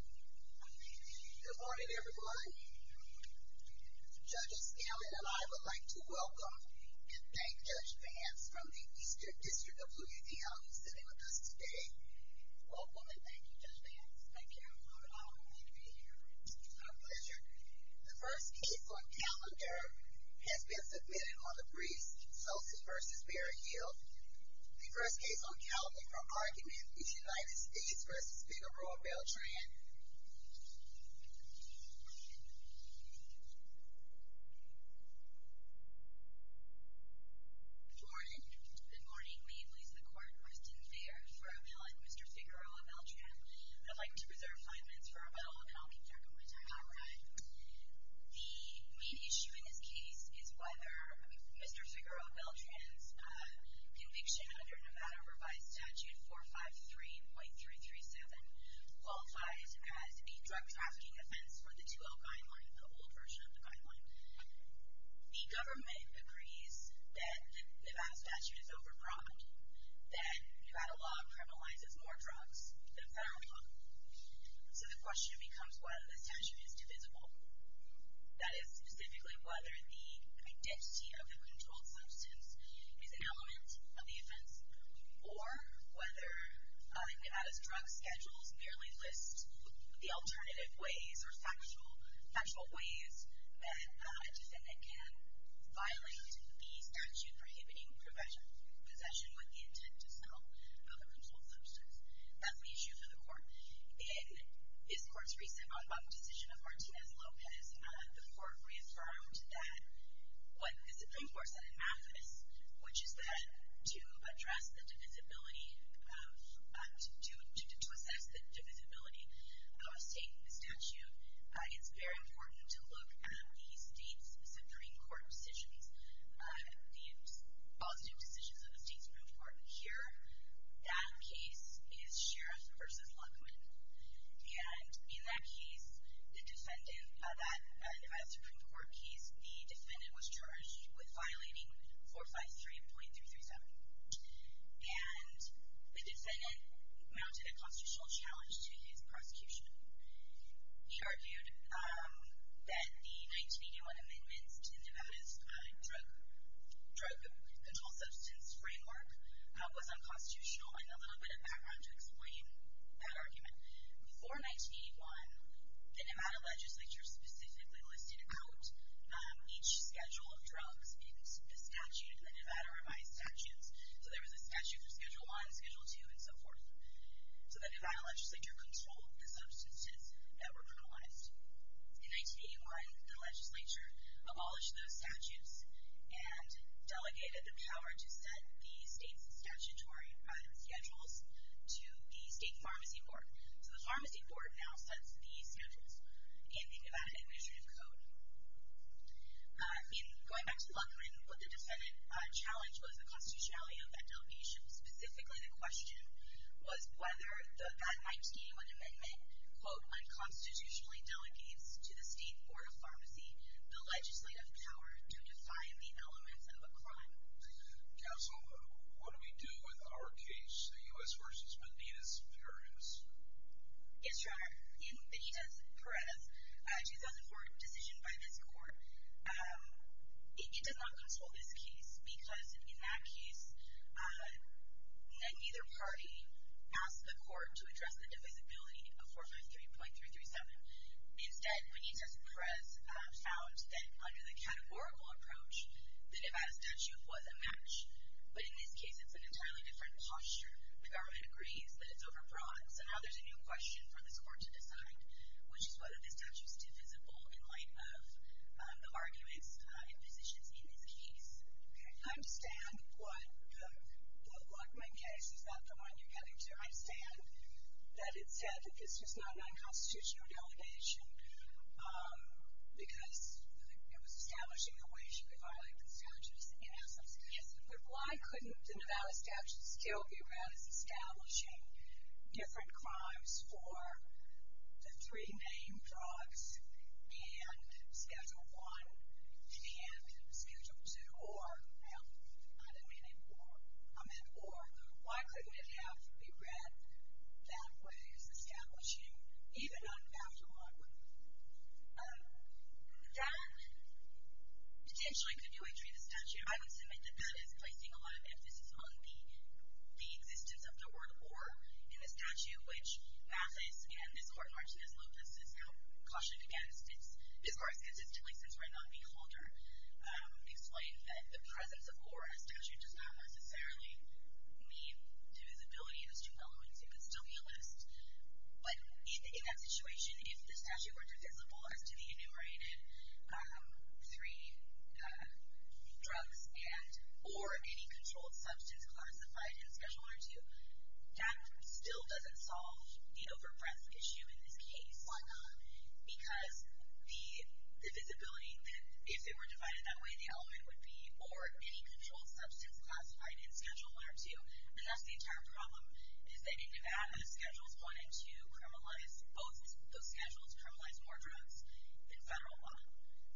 Good morning everyone. Judge Scanlon and I would like to welcome and thank Judge Vance from the Eastern District of Louisiana who is sitting with us today. Welcome and thank you Judge Vance. Thank you. It's an honor to be here. It's our pleasure. The first case on calendar has been submitted on the briefs Sosa v. Berryhill. The first case on calendar from Argument v. United States v. Figueroa-Beltran. Good morning. Good morning. May it please the court. Kristen Thayer for Abel and Mr. Figueroa-Beltran. I'd like to reserve five minutes for Abel and I'll keep track of my time. All right. The main issue in this case is whether Mr. Figueroa-Beltran's conviction under Nevada Revised Statute 453.337 qualifies as a drug trafficking offense for the 2-0 guideline, the old version of the guideline. The government agrees that the Nevada statute is over broad, that Nevada law criminalizes more drugs than federal law. So the question becomes whether the statute is divisible. That is specifically whether the identity of the controlled substance is an element of the offense or whether Nevada's drug schedules merely list the alternative ways or factual ways that a defendant can violate the statute prohibiting possession with the intent to sell the controlled substance. That's the issue for the court. In this court's recent vote on the decision of Martinez-Lopez, the court reaffirmed that what the Supreme Court said in Maffinis, which is that to assess the divisibility of the statute, it's very important to look at the state's Supreme Court decisions, the positive decisions of the state's Supreme Court. Here, that case is Sheriff v. Luckman. And in that case, that Nevada Supreme Court case, the defendant was charged with violating 453.337. And the defendant mounted a constitutional challenge to his prosecution. He argued that the 1981 amendments to Nevada's drug control substance framework was unconstitutional, and a little bit of background to explain that argument. Before 1981, the Nevada legislature specifically listed out each schedule of drugs in the statute, the Nevada revised statutes. So there was a statute for Schedule I, Schedule II, and so forth. So the Nevada legislature controlled the substances that were criminalized. In 1981, the legislature abolished those statutes and delegated the power to set the state's statutory schedules to the state pharmacy court. So the pharmacy court now sets the schedules in the Nevada Administrative Code. Going back to Luckman, what the defendant challenged was the constitutionality of that delegation. Specifically, the question was whether that 1981 amendment, quote, unconstitutionally delegates to the state board of pharmacy the legislative power to define the elements of a crime. Counsel, what do we do with our case, the U.S. v. Benitez-Perez? Yes, Your Honor. In Benitez-Perez, a 2004 decision by this court, it does not control this case because in that case, neither party asked the court to address the divisibility of 453.337. Instead, Benitez-Perez found that under the categorical approach, the Nevada statute was a match. But in this case, it's an entirely different posture. The government agrees that it's overbroad. So now there's a new question for this court to decide, which is whether the statute is divisible in light of the arguments and positions in this case. Okay. I understand what the Luckman case is not the one you're getting to. I understand that it said that this was not a nonconstitutional delegation because it was establishing the way she would violate the statute. Yes. Yes. But why couldn't the Nevada statute still be read as establishing different crimes for the three main drugs and Schedule I and Schedule II or, well, I didn't mean it or, I meant or. Why couldn't it have been read that way as establishing even on Chapter I? That potentially could do a treat of statute. I would submit that that is placing a lot of emphasis on the existence of the word or in the statute, which Mathis and this court in Martinez-Lopez has now cautioned against, as far as consistently, since we're not a beholder, explained that the presence of or in a statute does not necessarily mean divisibility. It's too mellow, and so it could still be a list. But in that situation, if the statute were divisible as to the enumerated three drugs and or any controlled substance classified in Schedule I or II, that still doesn't solve the overpress issue in this case. Why not? Because the divisibility, if it were divided that way, the element would be or any controlled substance classified in Schedule I or II, and that's the entire problem, is that in Nevada, Schedules I and II criminalize, both those schedules criminalize more drugs than federal law.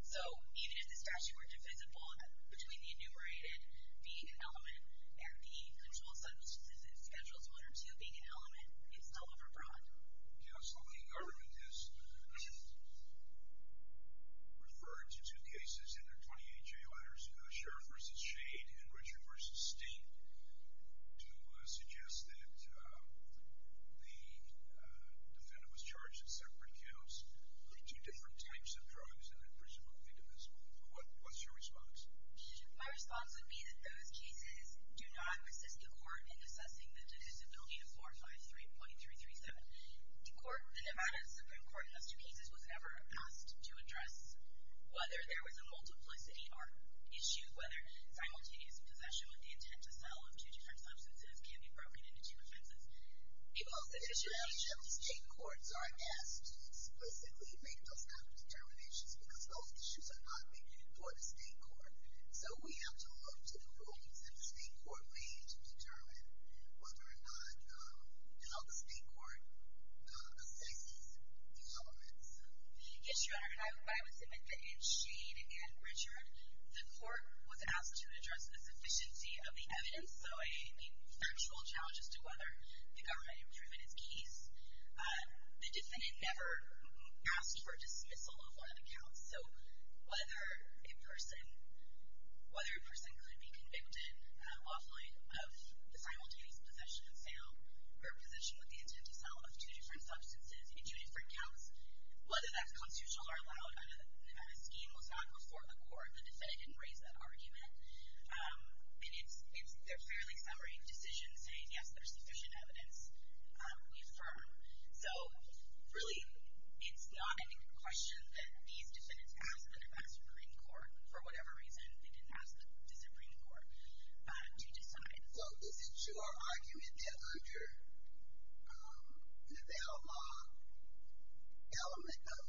So even if the statute were divisible between the enumerated being an element and the controlled substance in Schedules I or II being an element, it's still overbroad. Yeah, so the government has referred to two cases in their 28-J letters, Sheriff v. Shade and Richard v. Stink, to suggest that the defendant was charged in separate counts with two different types of drugs and had presumed victimism. What's your response? My response would be that those cases do not resist the court in assessing the divisibility of 453.337. Whether there was a multiplicity or issue, whether simultaneous possession with the intent to sell of two different substances can be broken into two offenses. The state courts are asked to explicitly make those kinds of determinations because those issues are not made before the state court. So we have to look to the rulings that the state court made to determine whether or not how the state court assesses the elements. Yes, Your Honor, and I would submit that in Shade and Richard, the court was asked to address the sufficiency of the evidence, so I mean factual challenges to whether the government had proven its case. The defendant never asked for dismissal of one of the counts, so whether a person could be convicted off-line of the simultaneous possession and sale or possession with the intent to sell of two different substances in two different counts, whether that's constitutional or allowed, a scheme was not before the court. The defendant didn't raise that argument, and it's their fairly summary decision saying, yes, there's sufficient evidence. We affirm. So really it's not a question that these defendants asked the Supreme Court. For whatever reason, they didn't ask the Supreme Court to decide. So is it your argument that under Nevada law, element of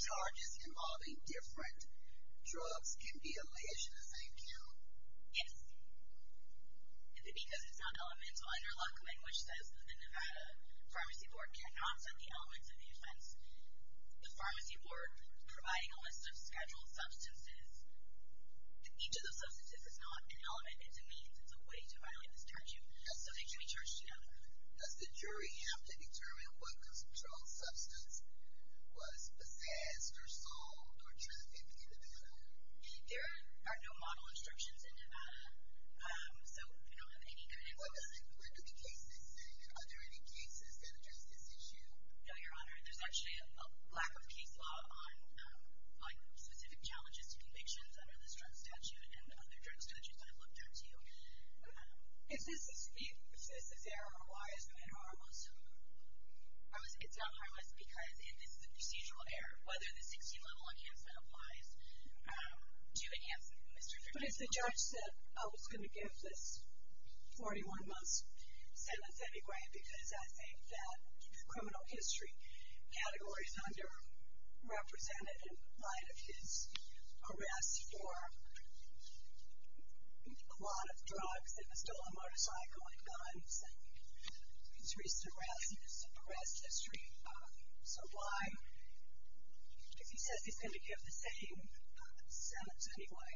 charges involving different drugs can be alleged in the same count? Yes. It's because it's not elemental. Under law coming, which says the Nevada pharmacy board cannot set the elements of the offense, the pharmacy board providing a list of scheduled substances, each of those substances is not an element. It's a means. It's a way to violate this charge. So they can be charged, you know. Does the jury have to determine what controlled substance was possessed or sold or trafficked in Nevada? There are no model instructions in Nevada, so we don't have any evidence of that. What do the cases say? Are there any cases that address this issue? No, Your Honor. There's actually a lack of case law on, like, specific challenges to convictions under this drug statute and other drug statutes that I've looked into. If this is error, why is it an error also? It's not an error because this is a procedural error. Whether the 16-level enhancement applies to enhance Mr. Fertitta. But if the judge said, oh, it's going to give this 41-month sentence, that would be great because I think that criminal history category is underrepresented in light of his arrest for a lot of drugs, and he stole a motorcycle and guns, and his recent arrest history. So why, if he says he's going to give the same sentence anyway,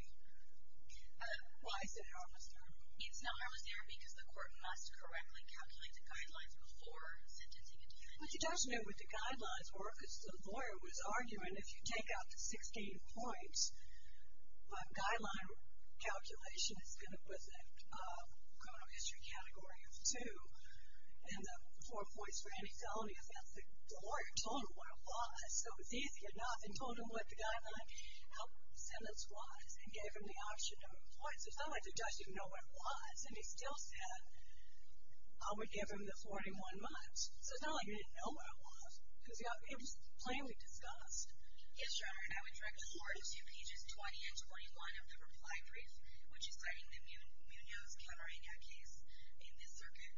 why is it an error? It's not an error because the court must correctly calculate the guidelines before sentencing a defendant. But the judge knew what the guidelines were because the lawyer was arguing if you take out the 16 points, the guideline calculation is going to put the criminal history category of 2, and the 4 points for any felony offense. The lawyer told him what it was, so it's easy enough, and told him what the guideline for the sentence was, and gave him the option of points. So it's not like the judge didn't know what it was, and he still said I would give him the 41 months. So it's not like he didn't know what it was because it was plainly discussed. Yes, Your Honor, and I would direct you to pages 20 and 21 of the reply brief, which is citing the Munoz-Camarena case in this circuit,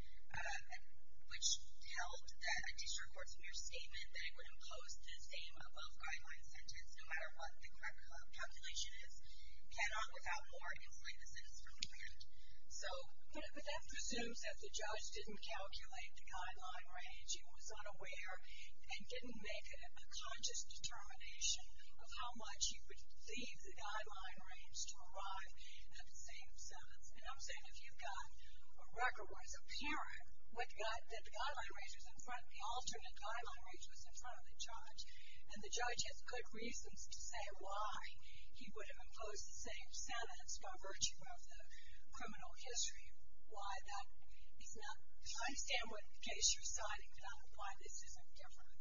which held that a district court's mere statement that it would impose the same above-guideline sentence, no matter what the correct calculation is, cannot without more inflammation. So that presumes that the judge didn't calculate the guideline range, he was unaware, and didn't make a conscious determination of how much he would leave the guideline range to arrive at the same sentence. And I'm saying if you've got a record where it's apparent that the guideline range was in front, the alternate guideline range was in front of the judge, and the judge has good reasons to say why he would have imposed the same sentence by virtue of the criminal history, why that is not. I understand what case you're citing, but I don't know why this isn't different.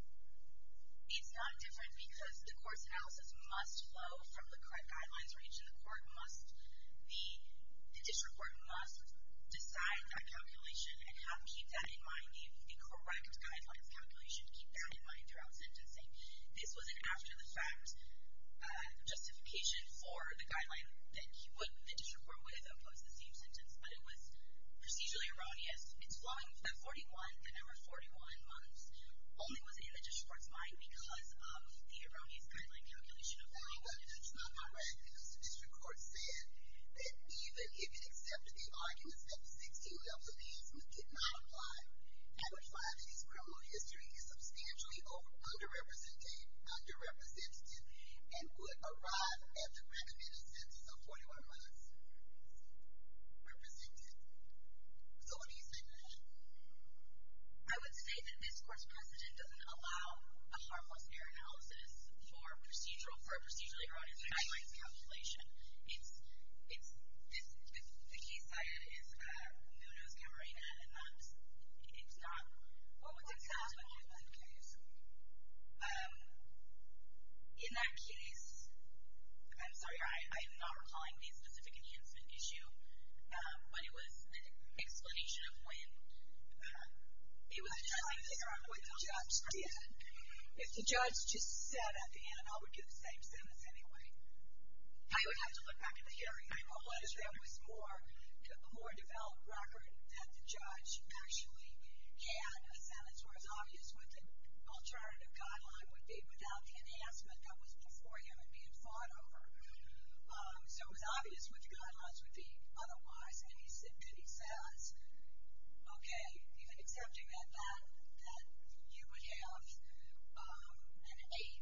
It's not different because the court's analysis must flow from the correct guidelines range, and the district court must decide that calculation and keep that in mind, a correct guidelines calculation, and keep that in mind throughout sentencing. This was an after-the-fact justification for the guideline that the district court would have imposed the same sentence, but it was procedurally erroneous. It's flowing from that 41, the number 41 months, only was in the district court's mind because of the erroneous guideline calculation of 41. But that's not correct because the district court said that even if it accepted the arguments that the 16 levels of the instrument did not apply, that would imply that his criminal history is substantially underrepresented and would arrive at the recommended sentence of 41 months. Represented. So what do you say to that? I would say that this court's precedent doesn't allow a harmless error analysis for a procedurally erroneous guidelines calculation. The case I edited is Nuno's Camarena, and it's not what was examined in that case. In that case, I'm sorry, I am not recalling the specific enhancement issue, but it was an explanation of when it was a trial in the area where the judge did. If the judge just said at the end, I would get the same sentence anyway. I would have to look back at the hearing. There was a more developed record that the judge actually had a sentence where it was obvious what the alternative guideline would be without the enhancement that was before him and being fought over. So it was obvious what the guidelines would be otherwise, and then he says, okay, even accepting that you would have an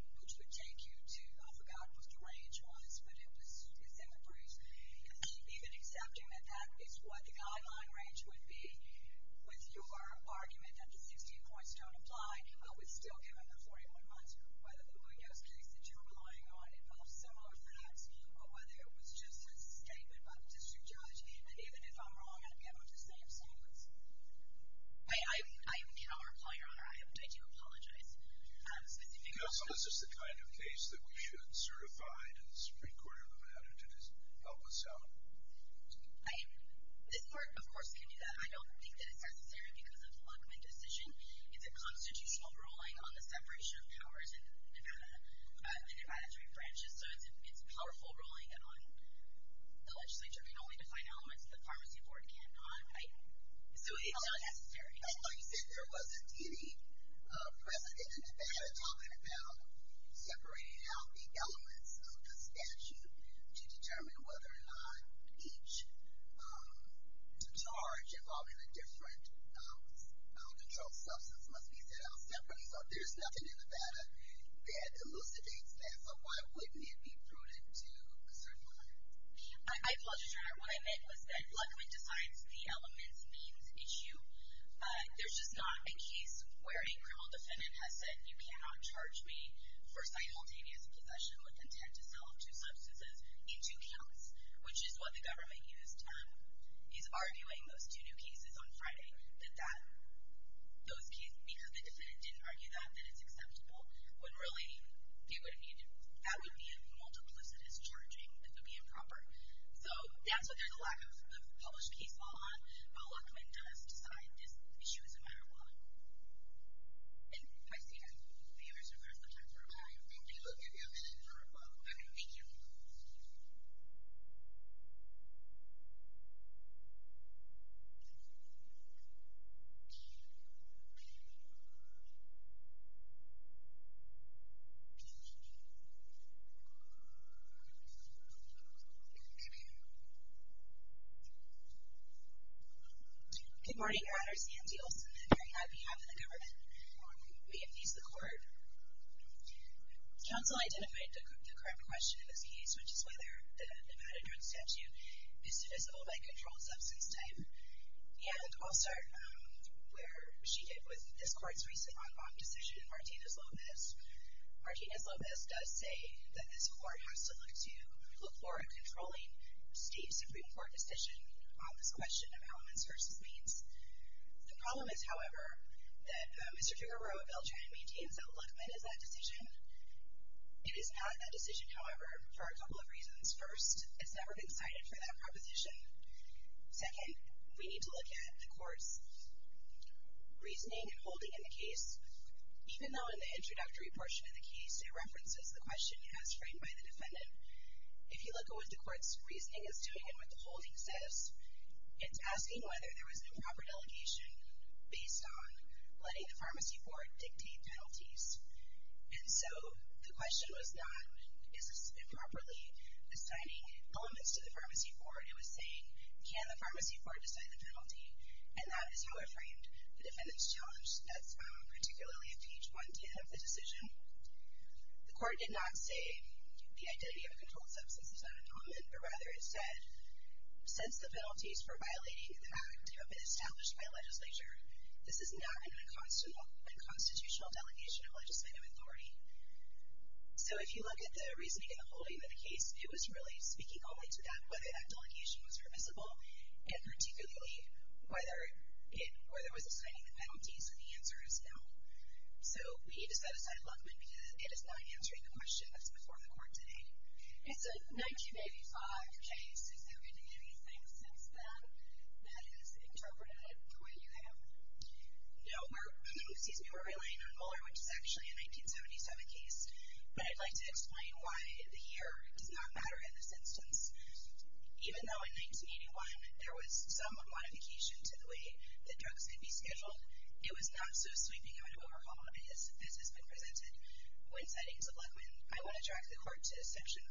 8, which would take you to, I forgot what the range was, but it was in the brief. Even accepting that that is what the guideline range would be with your argument that the 16 points don't apply, I would still give him the 41 months, whether the Nuno's case that you're relying on involves similar facts or whether it was just a statement by the district judge, and even if I'm wrong, I'd give him the same sentence. I cannot reply, Your Honor. I do apologize. No, so this is the kind of case that we should certify to the Supreme Court of Nevada to help us out. This Court, of course, can do that. I don't think that it's necessary because of the Luckman decision. It's a constitutional ruling on the separation of powers in Nevada, in Nevada's three branches, so it's a powerful ruling on the legislature. It can only define elements that the pharmacy board cannot. So it's not necessary. I thought you said there wasn't any precedent in Nevada talking about separating out the elements of the statute to determine whether or not each charge involving a different controlled substance must be set out separately. So there's nothing in Nevada that elucidates that, so why wouldn't it be prudent to certify it? I apologize, Your Honor. What I meant was that Luckman decides the elements, means, issue. There's just not a case where a criminal defendant has said, you cannot charge me for simultaneous possession with intent to sell two substances in two counts, which is what the government used. He's arguing those two new cases on Friday, that those cases, because the defendant didn't argue that, that it's acceptable, when really that would be a multiplicitous charging. It would be improper. So, yeah, so there's a lack of published case law, but Luckman does decide this issue is a matter of law. And I see that the others are clear sometimes. All right, thank you. We'll give you a minute for a follow-up. Okay, thank you. Thank you. Good morning, Your Honors. Nancy Olson here on behalf of the government. We appease the court. Counsel identified the correct question in this case, which is whether the Nevada drug statute is divisible by controlled substance type. And I'll start where she did with this court's recent en banc decision, Martinez-Lopez. Martinez-Lopez does say that this court has to look to, look for a controlling state supreme court decision on this question of elements versus means. The problem is, however, that Mr. Giger wrote a bill trying to maintain that Luckman is that decision. It is not that decision, however, for a couple of reasons. First, it's never been cited for that proposition. Second, we need to look at the court's reasoning and holding in the case. Even though in the introductory portion of the case it references the question as framed by the defendant, if you look at what the court's reasoning is doing and what the holding says, it's asking whether there was improper delegation based on letting the pharmacy board dictate penalties. And so the question was not, is this improperly assigning elements to the pharmacy board? It was saying, can the pharmacy board decide the penalty? And that is how it framed the defendant's challenge. That's particularly at page 110 of the decision. The court did not say the identity of a controlled substance is not in common, but rather it said, since the penalties for violating the act have been established by legislature, this is not an unconstitutional delegation of legislative authority. So if you look at the reasoning and the holding of the case, it was really speaking only to that, whether that delegation was permissible and particularly whether it was assigning the penalties. And the answer is no. So we decided to assign Luckman because it is not answering the question that's before the court today. And so 1985 case, is there been anything since then that is interpreted the way you have? No. Excuse me. We're relying on Mueller, which is actually a 1977 case. But I'd like to explain why the year does not matter in this instance. Even though in 1981 there was some modification to the way that drugs could be scheduled, it was not so sweeping of an overhaul as has been presented. When citing the Luckman, I want to track the court to section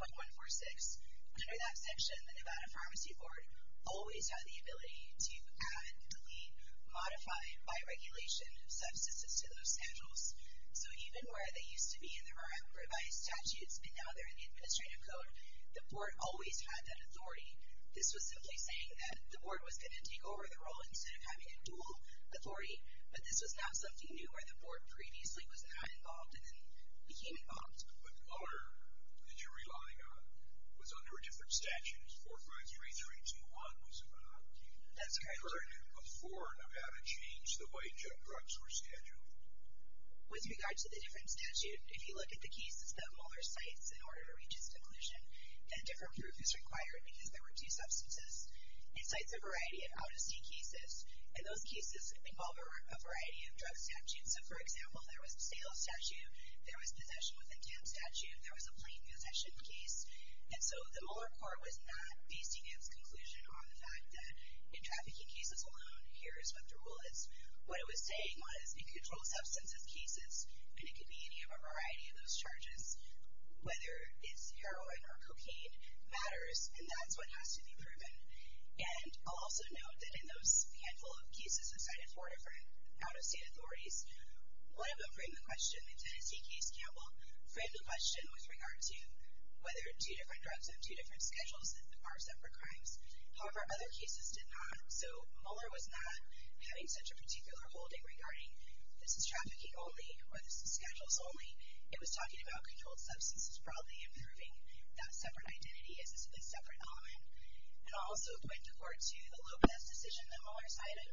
453.146. Under that section, the Nevada Pharmacy Board always had the ability to add, delete, modify, by regulation, substances to those schedules. So even where they used to be in the revised statutes and now they're in the administrative code, the board always had that authority. This was simply saying that the board was going to take over the role instead of having a dual authority, but this was now something new where the board previously was not involved and then became involved. But Mueller, that you're relying on, was under a different statute. 453321 was about keeping it. That's correct. Did you learn before Nevada changed the way junk drugs were scheduled? With regard to the different statute, if you look at the cases that Mueller cites in order to reach its conclusion, a different group is required because there were two substances. It cites a variety of out-of-state cases, and those cases involve a variety of drug statutes. So, for example, there was a sales statute, there was possession with intent statute, there was a plain possession case. And so the Mueller court was not basing its conclusion on the fact that in trafficking cases alone, here is what the rule is. What it was saying was in controlled substances cases, and it could be any of a variety of those charges, whether it's heroin or cocaine matters, and that's what has to be proven. And I'll also note that in those handful of cases that cited four different out-of-state authorities, one of them framed the question, the Tennessee case, Campbell, framed the question with regard to whether two different drugs have two different schedules are set for crimes. However, other cases did not. So Mueller was not having such a particular holding regarding this is schedules only. It was talking about controlled substances broadly and proving that separate identity is a separate element. And I'll also point the court to the Lopez decision that Mueller cited.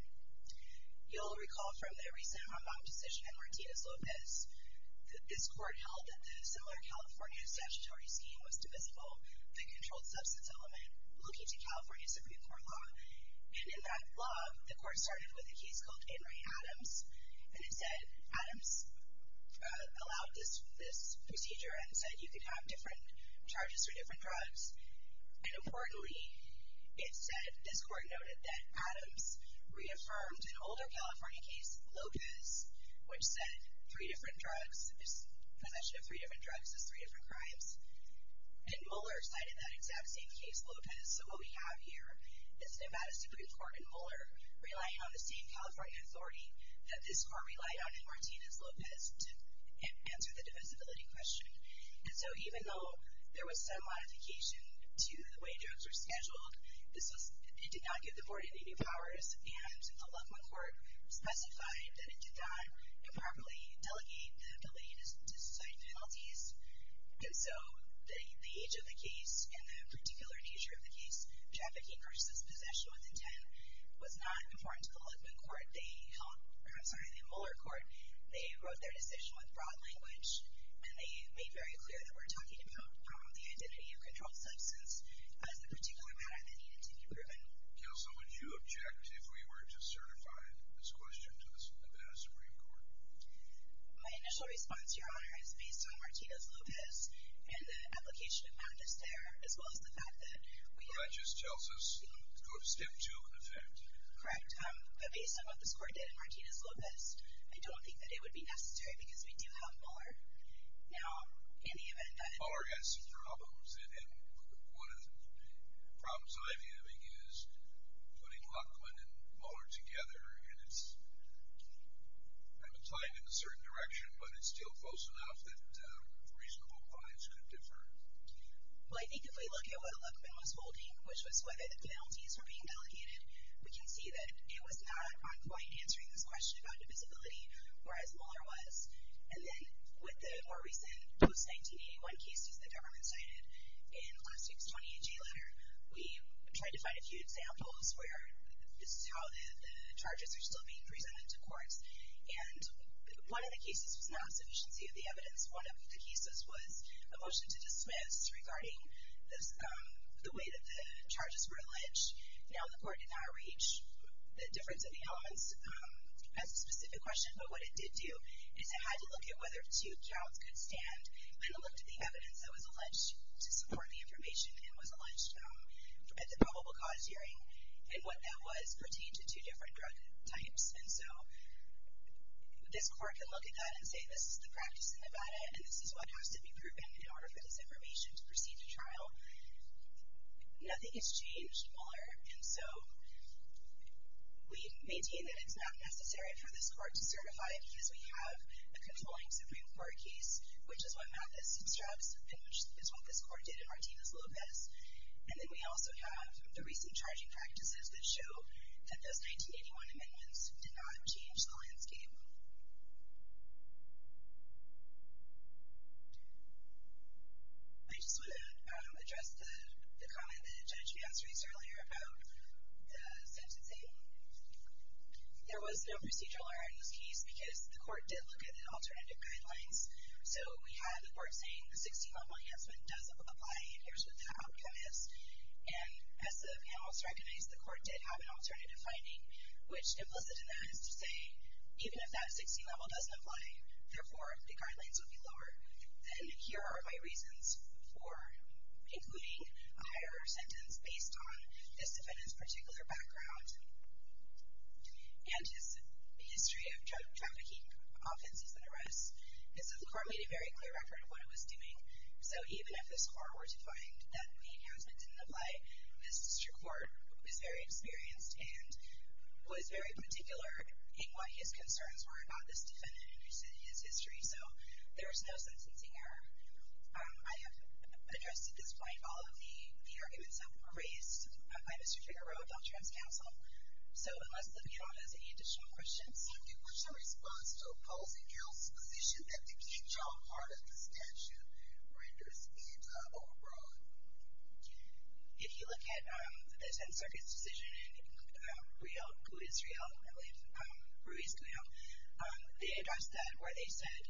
You'll recall from their recent Hong Kong decision and Martinez-Lopez, this court held that the similar California statutory scheme was divisible, the controlled substance element, looking to California Supreme Court law. And in that law, the court started with a case called Anne Ray Adams, and it said Adams allowed this procedure and said you could have different charges for different drugs. And importantly, it said this court noted that Adams reaffirmed an older California case, Lopez, which said three different drugs, possession of three different drugs is three different crimes. And Mueller cited that exact same case, Lopez. So what we have here is Nevada Supreme Court and Mueller relying on the same that this court relied on in Martinez-Lopez to answer the divisibility question. And so even though there was some modification to the way drugs were scheduled, it did not give the board any new powers, and the Luckman court specified that it did not improperly delegate the ability to cite penalties. And so the age of the case and the particular nature of the case, trafficking versus possession with intent, was not important to the Luckman court. They held, I'm sorry, the Mueller court, they wrote their decision with broad language, and they made very clear that we're talking about the identity of controlled substance as the particular matter that needed to be proven. Counsel, would you object if we were to certify this question to the Nevada Supreme Court? My initial response, Your Honor, is based on Martinez-Lopez, and the application of madness there, as well as the fact that we have. Well, that just tells us step two in effect. Correct. But based on what this court did in Martinez-Lopez, I don't think that it would be necessary, because we do have Mueller. Now, in the event that. Mueller has some problems, and one of the problems I'm having is putting Luckman and Mueller together, and it's kind of tied in a certain direction, but it's still close enough that reasonable points could differ. Well, I think if we look at what Luckman was holding, which was whether the penalties were being delegated, we can see that it was not on point answering this question about divisibility, whereas Mueller was. And then with the more recent post-1981 cases the government cited, in last week's 28-J letter, we tried to find a few examples where this is how the charges are still being presented to courts. And one of the cases was not sufficiency of the evidence. One of the cases was a motion to dismiss regarding the way that the charges were alleged. Now, the court did not reach the difference of the elements as a specific question, but what it did do is it had to look at whether two counts could stand, and it looked at the evidence that was alleged to support the information and was alleged at the probable cause hearing, and what that was pertained to two different drug types. And so this court can look at that and say this is the practice in Nevada, and this is what has to be proven in order for this information to proceed to trial. Nothing has changed, Mueller, and so we maintain that it's not necessary for this court to certify it because we have a controlling Supreme Court case, which is what Mattis obstructs and which is what this court did in Martinez-Lopez. And then we also have the recent charging practices that show that those 1981 amendments did not change the landscape. I just want to address the comment that the judge made earlier about the sentencing. There was no procedural error in this case because the court did look at the alternative guidelines. So we had the court saying the 16-level enhancement does apply, and here's what the outcome is. And as the panelists recognized, the court did have an alternative finding, which implicit in that is to say even if that 16-level doesn't apply, therefore the guidelines would be lower. Then here are my reasons for including a higher sentence based on this defendant's particular background and his history of trafficking, offenses, and arrests. And so the court made a very clear record of what it was doing. So even if this court were to find that the enhancement didn't apply, this district court was very experienced and was very particular in what his concerns were about this defendant and his history. So there was no sentencing error. I have addressed at this point all of the arguments that were raised by Mr. Figueroa of Deltran's counsel. So unless the panel has any additional questions. So what's the response to opposing counsel's position that the King John part of the statute renders anti-overbroad? If you look at the 10th Circuit's decision in Israel, they addressed that where they said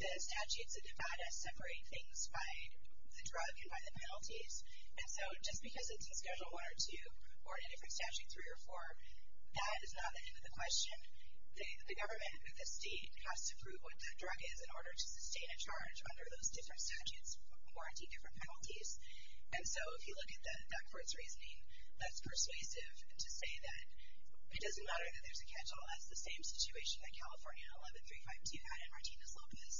the statutes that divide us separate things by the drug and by the penalties. And so just because it's in Schedule I or II or in a different statute, three or four, that is not the end of the question. The government or the state has to prove what that drug is in order to sustain a charge under those different statutes, warranty different penalties. And so if you look at that court's reasoning, that's persuasive to say that it doesn't matter that there's a catch-all. That's the same situation that California in 11352 had in Martinez-Lopez.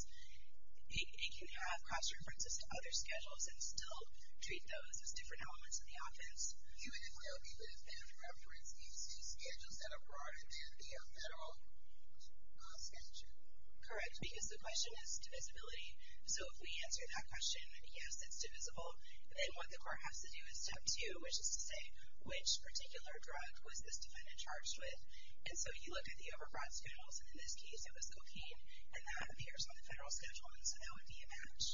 It can have cross-references to other schedules and still treat those as different elements of the offense. You wouldn't know if you would have found a reference in two schedules that are broader than the federal statute. Correct, because the question is divisibility. So if we answer that question, yes, it's divisible, then what the court has to do is step two, which is to say which particular drug was this defendant charged with. And so you look at the overbroad schedules, and in this case it was cocaine, and that appears on the federal schedule, and so that would be a match.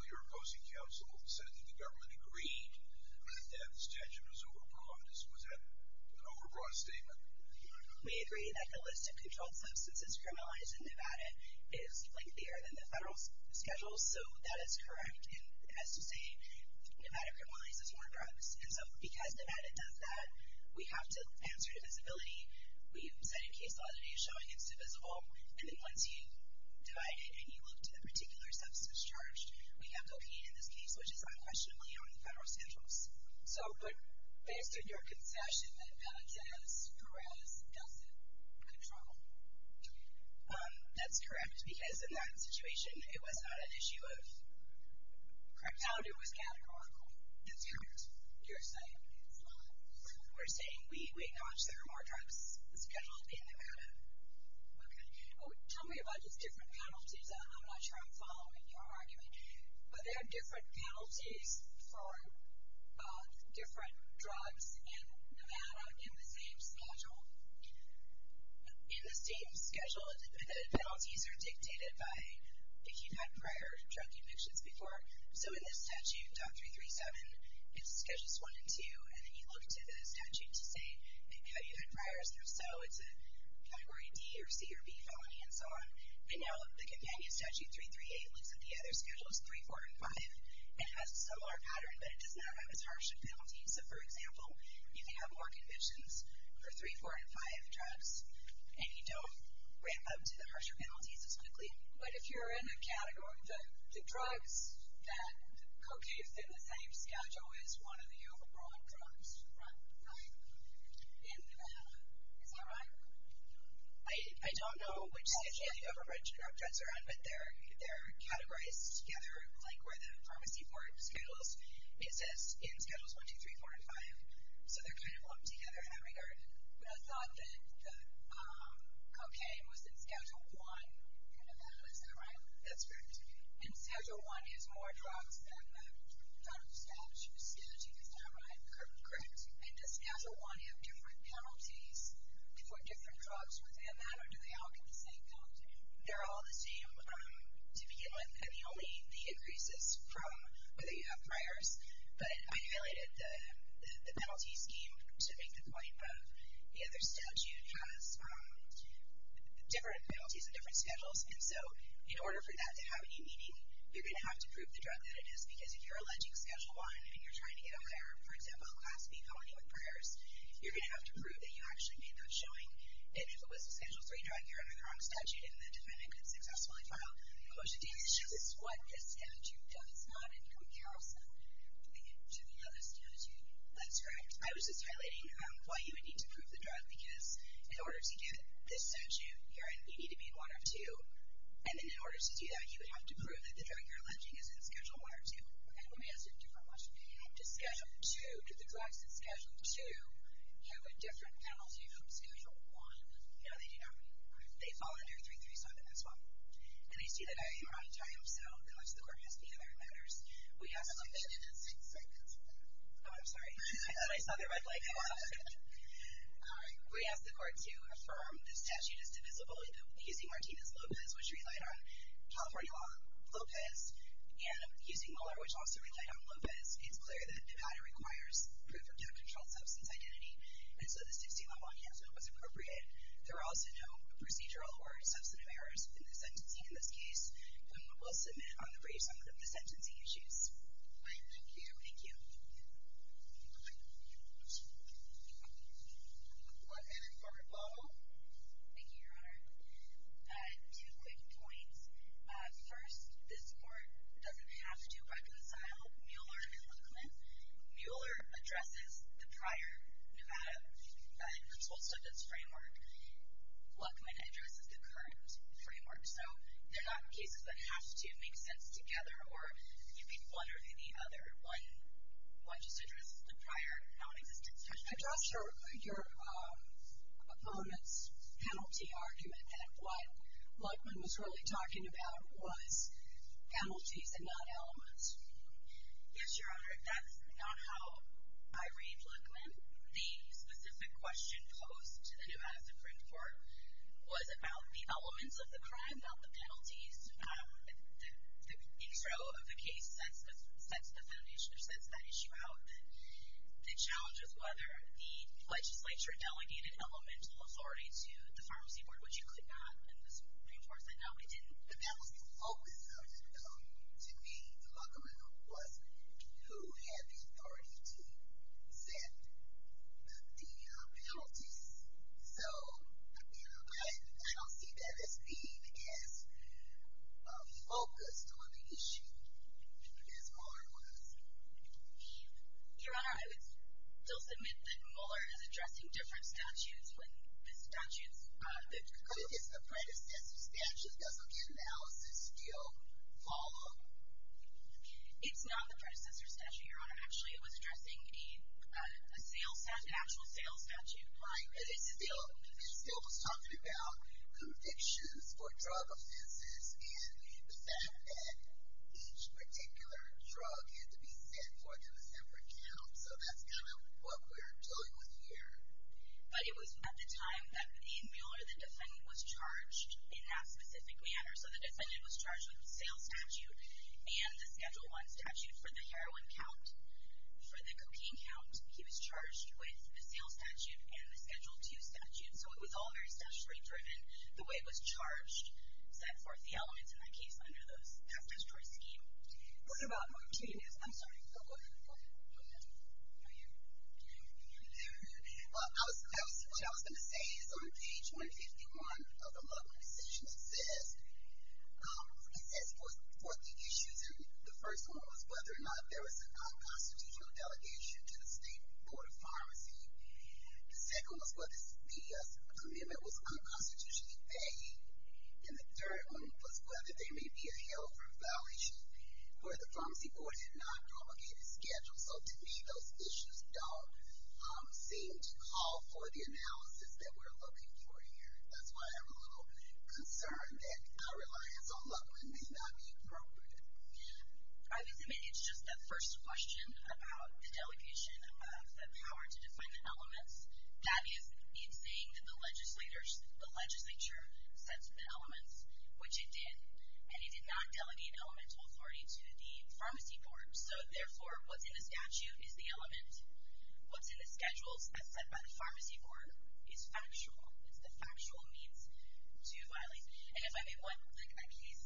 Your opposing counsel said that the government agreed that the statute was overbroad. Was that an overbroad statement? We agree that the list of controlled substances criminalized in Nevada is lengthier than the federal schedule, so that is correct. And it has to say Nevada criminalizes more drugs. And so because Nevada does that, we have to answer divisibility. We've cited case law that is showing it's divisible. And then once you divide it and you look to the particular substance charged, we have cocaine in this case, which is unquestionably on the federal schedules. But based on your concession, that penalty has Perez-Dustin control. That's correct, because in that situation, it was not an issue of crack powder. It was categorical. That's correct. You're citing case law. We're saying we acknowledge there are more drugs scheduled in Nevada. Okay. Tell me about these different penalties. I'm not sure I'm following your argument, but there are different penalties for different drugs in Nevada in the same schedule. In the same schedule, the penalties are dictated by if you've had prior drug addictions before. So in this statute, Doctrine 3-7, it's Schedules 1 and 2, and then you look to the statute to say have you had prior, so it's a Category D or C or B felony and so on. And now the companion statute, 3-3-8, looks at the other schedules, 3, 4, and 5, and has a similar pattern, but it does not have as harsh a penalty. So, for example, you can have more convictions for 3, 4, and 5 drugs, and you don't ramp up to the harsher penalties as quickly. But if you're in a category, the drugs that cocaine is in the same schedule is one of the overbought drugs. Right. In Nevada. Is that right? I don't know which schedule you've ever mentioned, but they're categorized together like where the pharmacy port schedules exist in Schedules 1, 2, 3, 4, and 5. So they're kind of lumped together in that regard. But I thought that cocaine was in Schedule 1 in Nevada. Is that right? That's correct. And Schedule 1 has more drugs than the federal statute. The statute does not, right? Correct. And does Schedule 1 have different penalties for different drugs within that, or do they all get the same penalty? They're all the same to begin with. And only the increases from whether you have priors. But I highlighted the penalty scheme to make the point that the other statute has different penalties and different schedules. And so in order for that to have any meaning, you're going to have to prove the drug that it is. Because if you're alleging Schedule 1 and you're trying to get a higher, for example, class B company with priors, you're going to have to prove that you actually made that showing. And if it was a Schedule 3 drug, you're under the wrong statute, and the defendant could successfully file a motion to issue it. This is what this statute does not in comparison to the other statute. That's correct. I was just highlighting why you would need to prove the drug. Because in order to get this statute, you need to be in one of two. And then in order to do that, you would have to prove that the drug you're alleging is in Schedule 1 or 2. And we asked a different question. Do the drugs in Schedule 2 have a different penalty from Schedule 1? No, they do not. They fall under 3-3-7 as well. And I see that I am out of time, so unless the Court has any other matters, we ask the Court to affirm the statute is divisible. I also would note that using Martinez-Lopez, which relied on California law, and using Moeller, which also relied on Lopez, it's clear that Nevada requires proof of drug control substance identity. And so the 16-11 has no what's appropriate. There are also no procedural or substantive errors in the sentencing in this case. And we will submit on the brief summit of the sentencing issues. All right, thank you. Thank you. One minute for rebuttal. Thank you, Your Honor. Two quick points. First, this court doesn't have to reconcile Mueller and Luckman. Mueller addresses the prior Nevada drug control substance framework. Luckman addresses the current framework. So they're not cases that have to make sense together or be one or the other. Why just address the prior non-existent? I dropped your opponent's penalty argument that what Luckman was really talking about was penalties and not elements. Yes, Your Honor, that's not how I read Luckman. The specific question posed to the Nevada Supreme Court The intro of the case sets the foundation or sets that issue out. The challenge is whether the legislature delegated elemental authority to the pharmacy board, which you could not in the Supreme Court. No, it didn't. But that was the focus of it, though. To me, Luckman was who had the authority to set the penalties. So I don't see that as being as focused on the issue as Mueller was. Your Honor, I would still submit that Mueller is addressing different statutes when the statutes... But it's the predecessor statute. Doesn't the analysis still follow? It's not the predecessor statute, Your Honor. Actually, it was addressing an actual sales statute. Right, but it still was talking about convictions for drug offenses and the fact that each particular drug had to be set for a separate count. So that's kind of what we're dealing with here. But it was at the time that the Mueller, the defendant, was charged in that specific manner. So the defendant was charged with the sales statute and the Schedule I statute for the heroin count. For the cocaine count, he was charged with the sales statute and the Schedule II statute. So it was all very statutory-driven. The way it was charged set forth the elements in that case under that statutory scheme. What about Martinez? I'm sorry. What I was going to say is on page 151 of the Luckman decision, it says, it sets forth the issues, and the first one was whether or not there was an unconstitutional delegation to the State Board of Pharmacy. The second was whether the amendment was unconstitutionally veiled. And the third one was whether there may be a health violation where the pharmacy board had not promulgated schedules. So to me, those issues don't seem to call for the analysis that we're looking for here. That's why I'm a little concerned that our reliance on Luckman may not be appropriate. I would submit it's just that first question about the delegation of the power to define the elements. That is in saying that the legislature set the elements, which it did, and it did not delegate elemental authority to the pharmacy board. So therefore, what's in the statute is the element. What's in the schedules as set by the pharmacy board is factual. It's the factual means to violate. And if I may want a case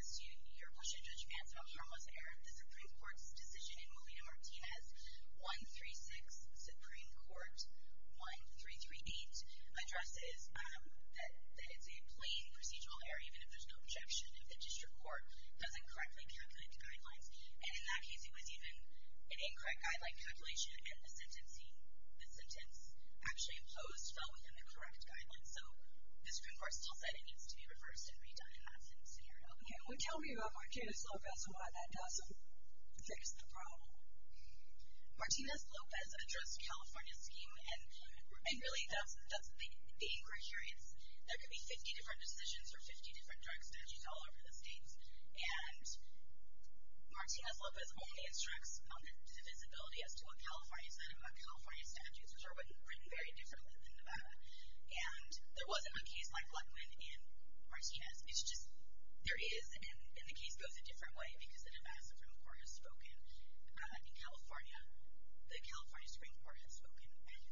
as to your question, Judge Vance, about harmless error, the Supreme Court's decision in Molina-Martinez, 136 Supreme Court 1338, addresses that it's a plain procedural error even if there's no objection, if the district court doesn't correctly calculate the guidelines. And in that case, it was even an incorrect guideline calculation, and the sentence actually imposed fell within the correct guidelines. So the Supreme Court still said it needs to be reversed and redone in that same scenario. Can you tell me about Martinez-Lopez and why that doesn't fix the problem? Martinez-Lopez addressed California's scheme, and really that's the aim criteria. There could be 50 different decisions or 50 different drug statutes all over the states, and Martinez-Lopez only instructs on the divisibility as to what California said about California's statutes, which are written very differently than Nevada. And there wasn't a case like Lutwin and Martinez. It's just there is, and the case goes a different way because the Nevada Supreme Court has spoken. In California, the California Supreme Court has spoken and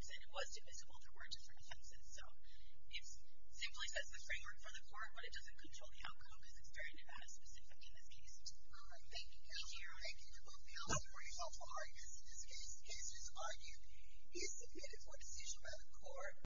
said it was divisible, there were different offenses. So it simply sets the framework for the court, but it doesn't control the outcome because it's very Nevada-specific in this case. Thank you. Thank you to both panelists for your helpful arguments. In this case, the case is argued. It is submitted for decision by the court.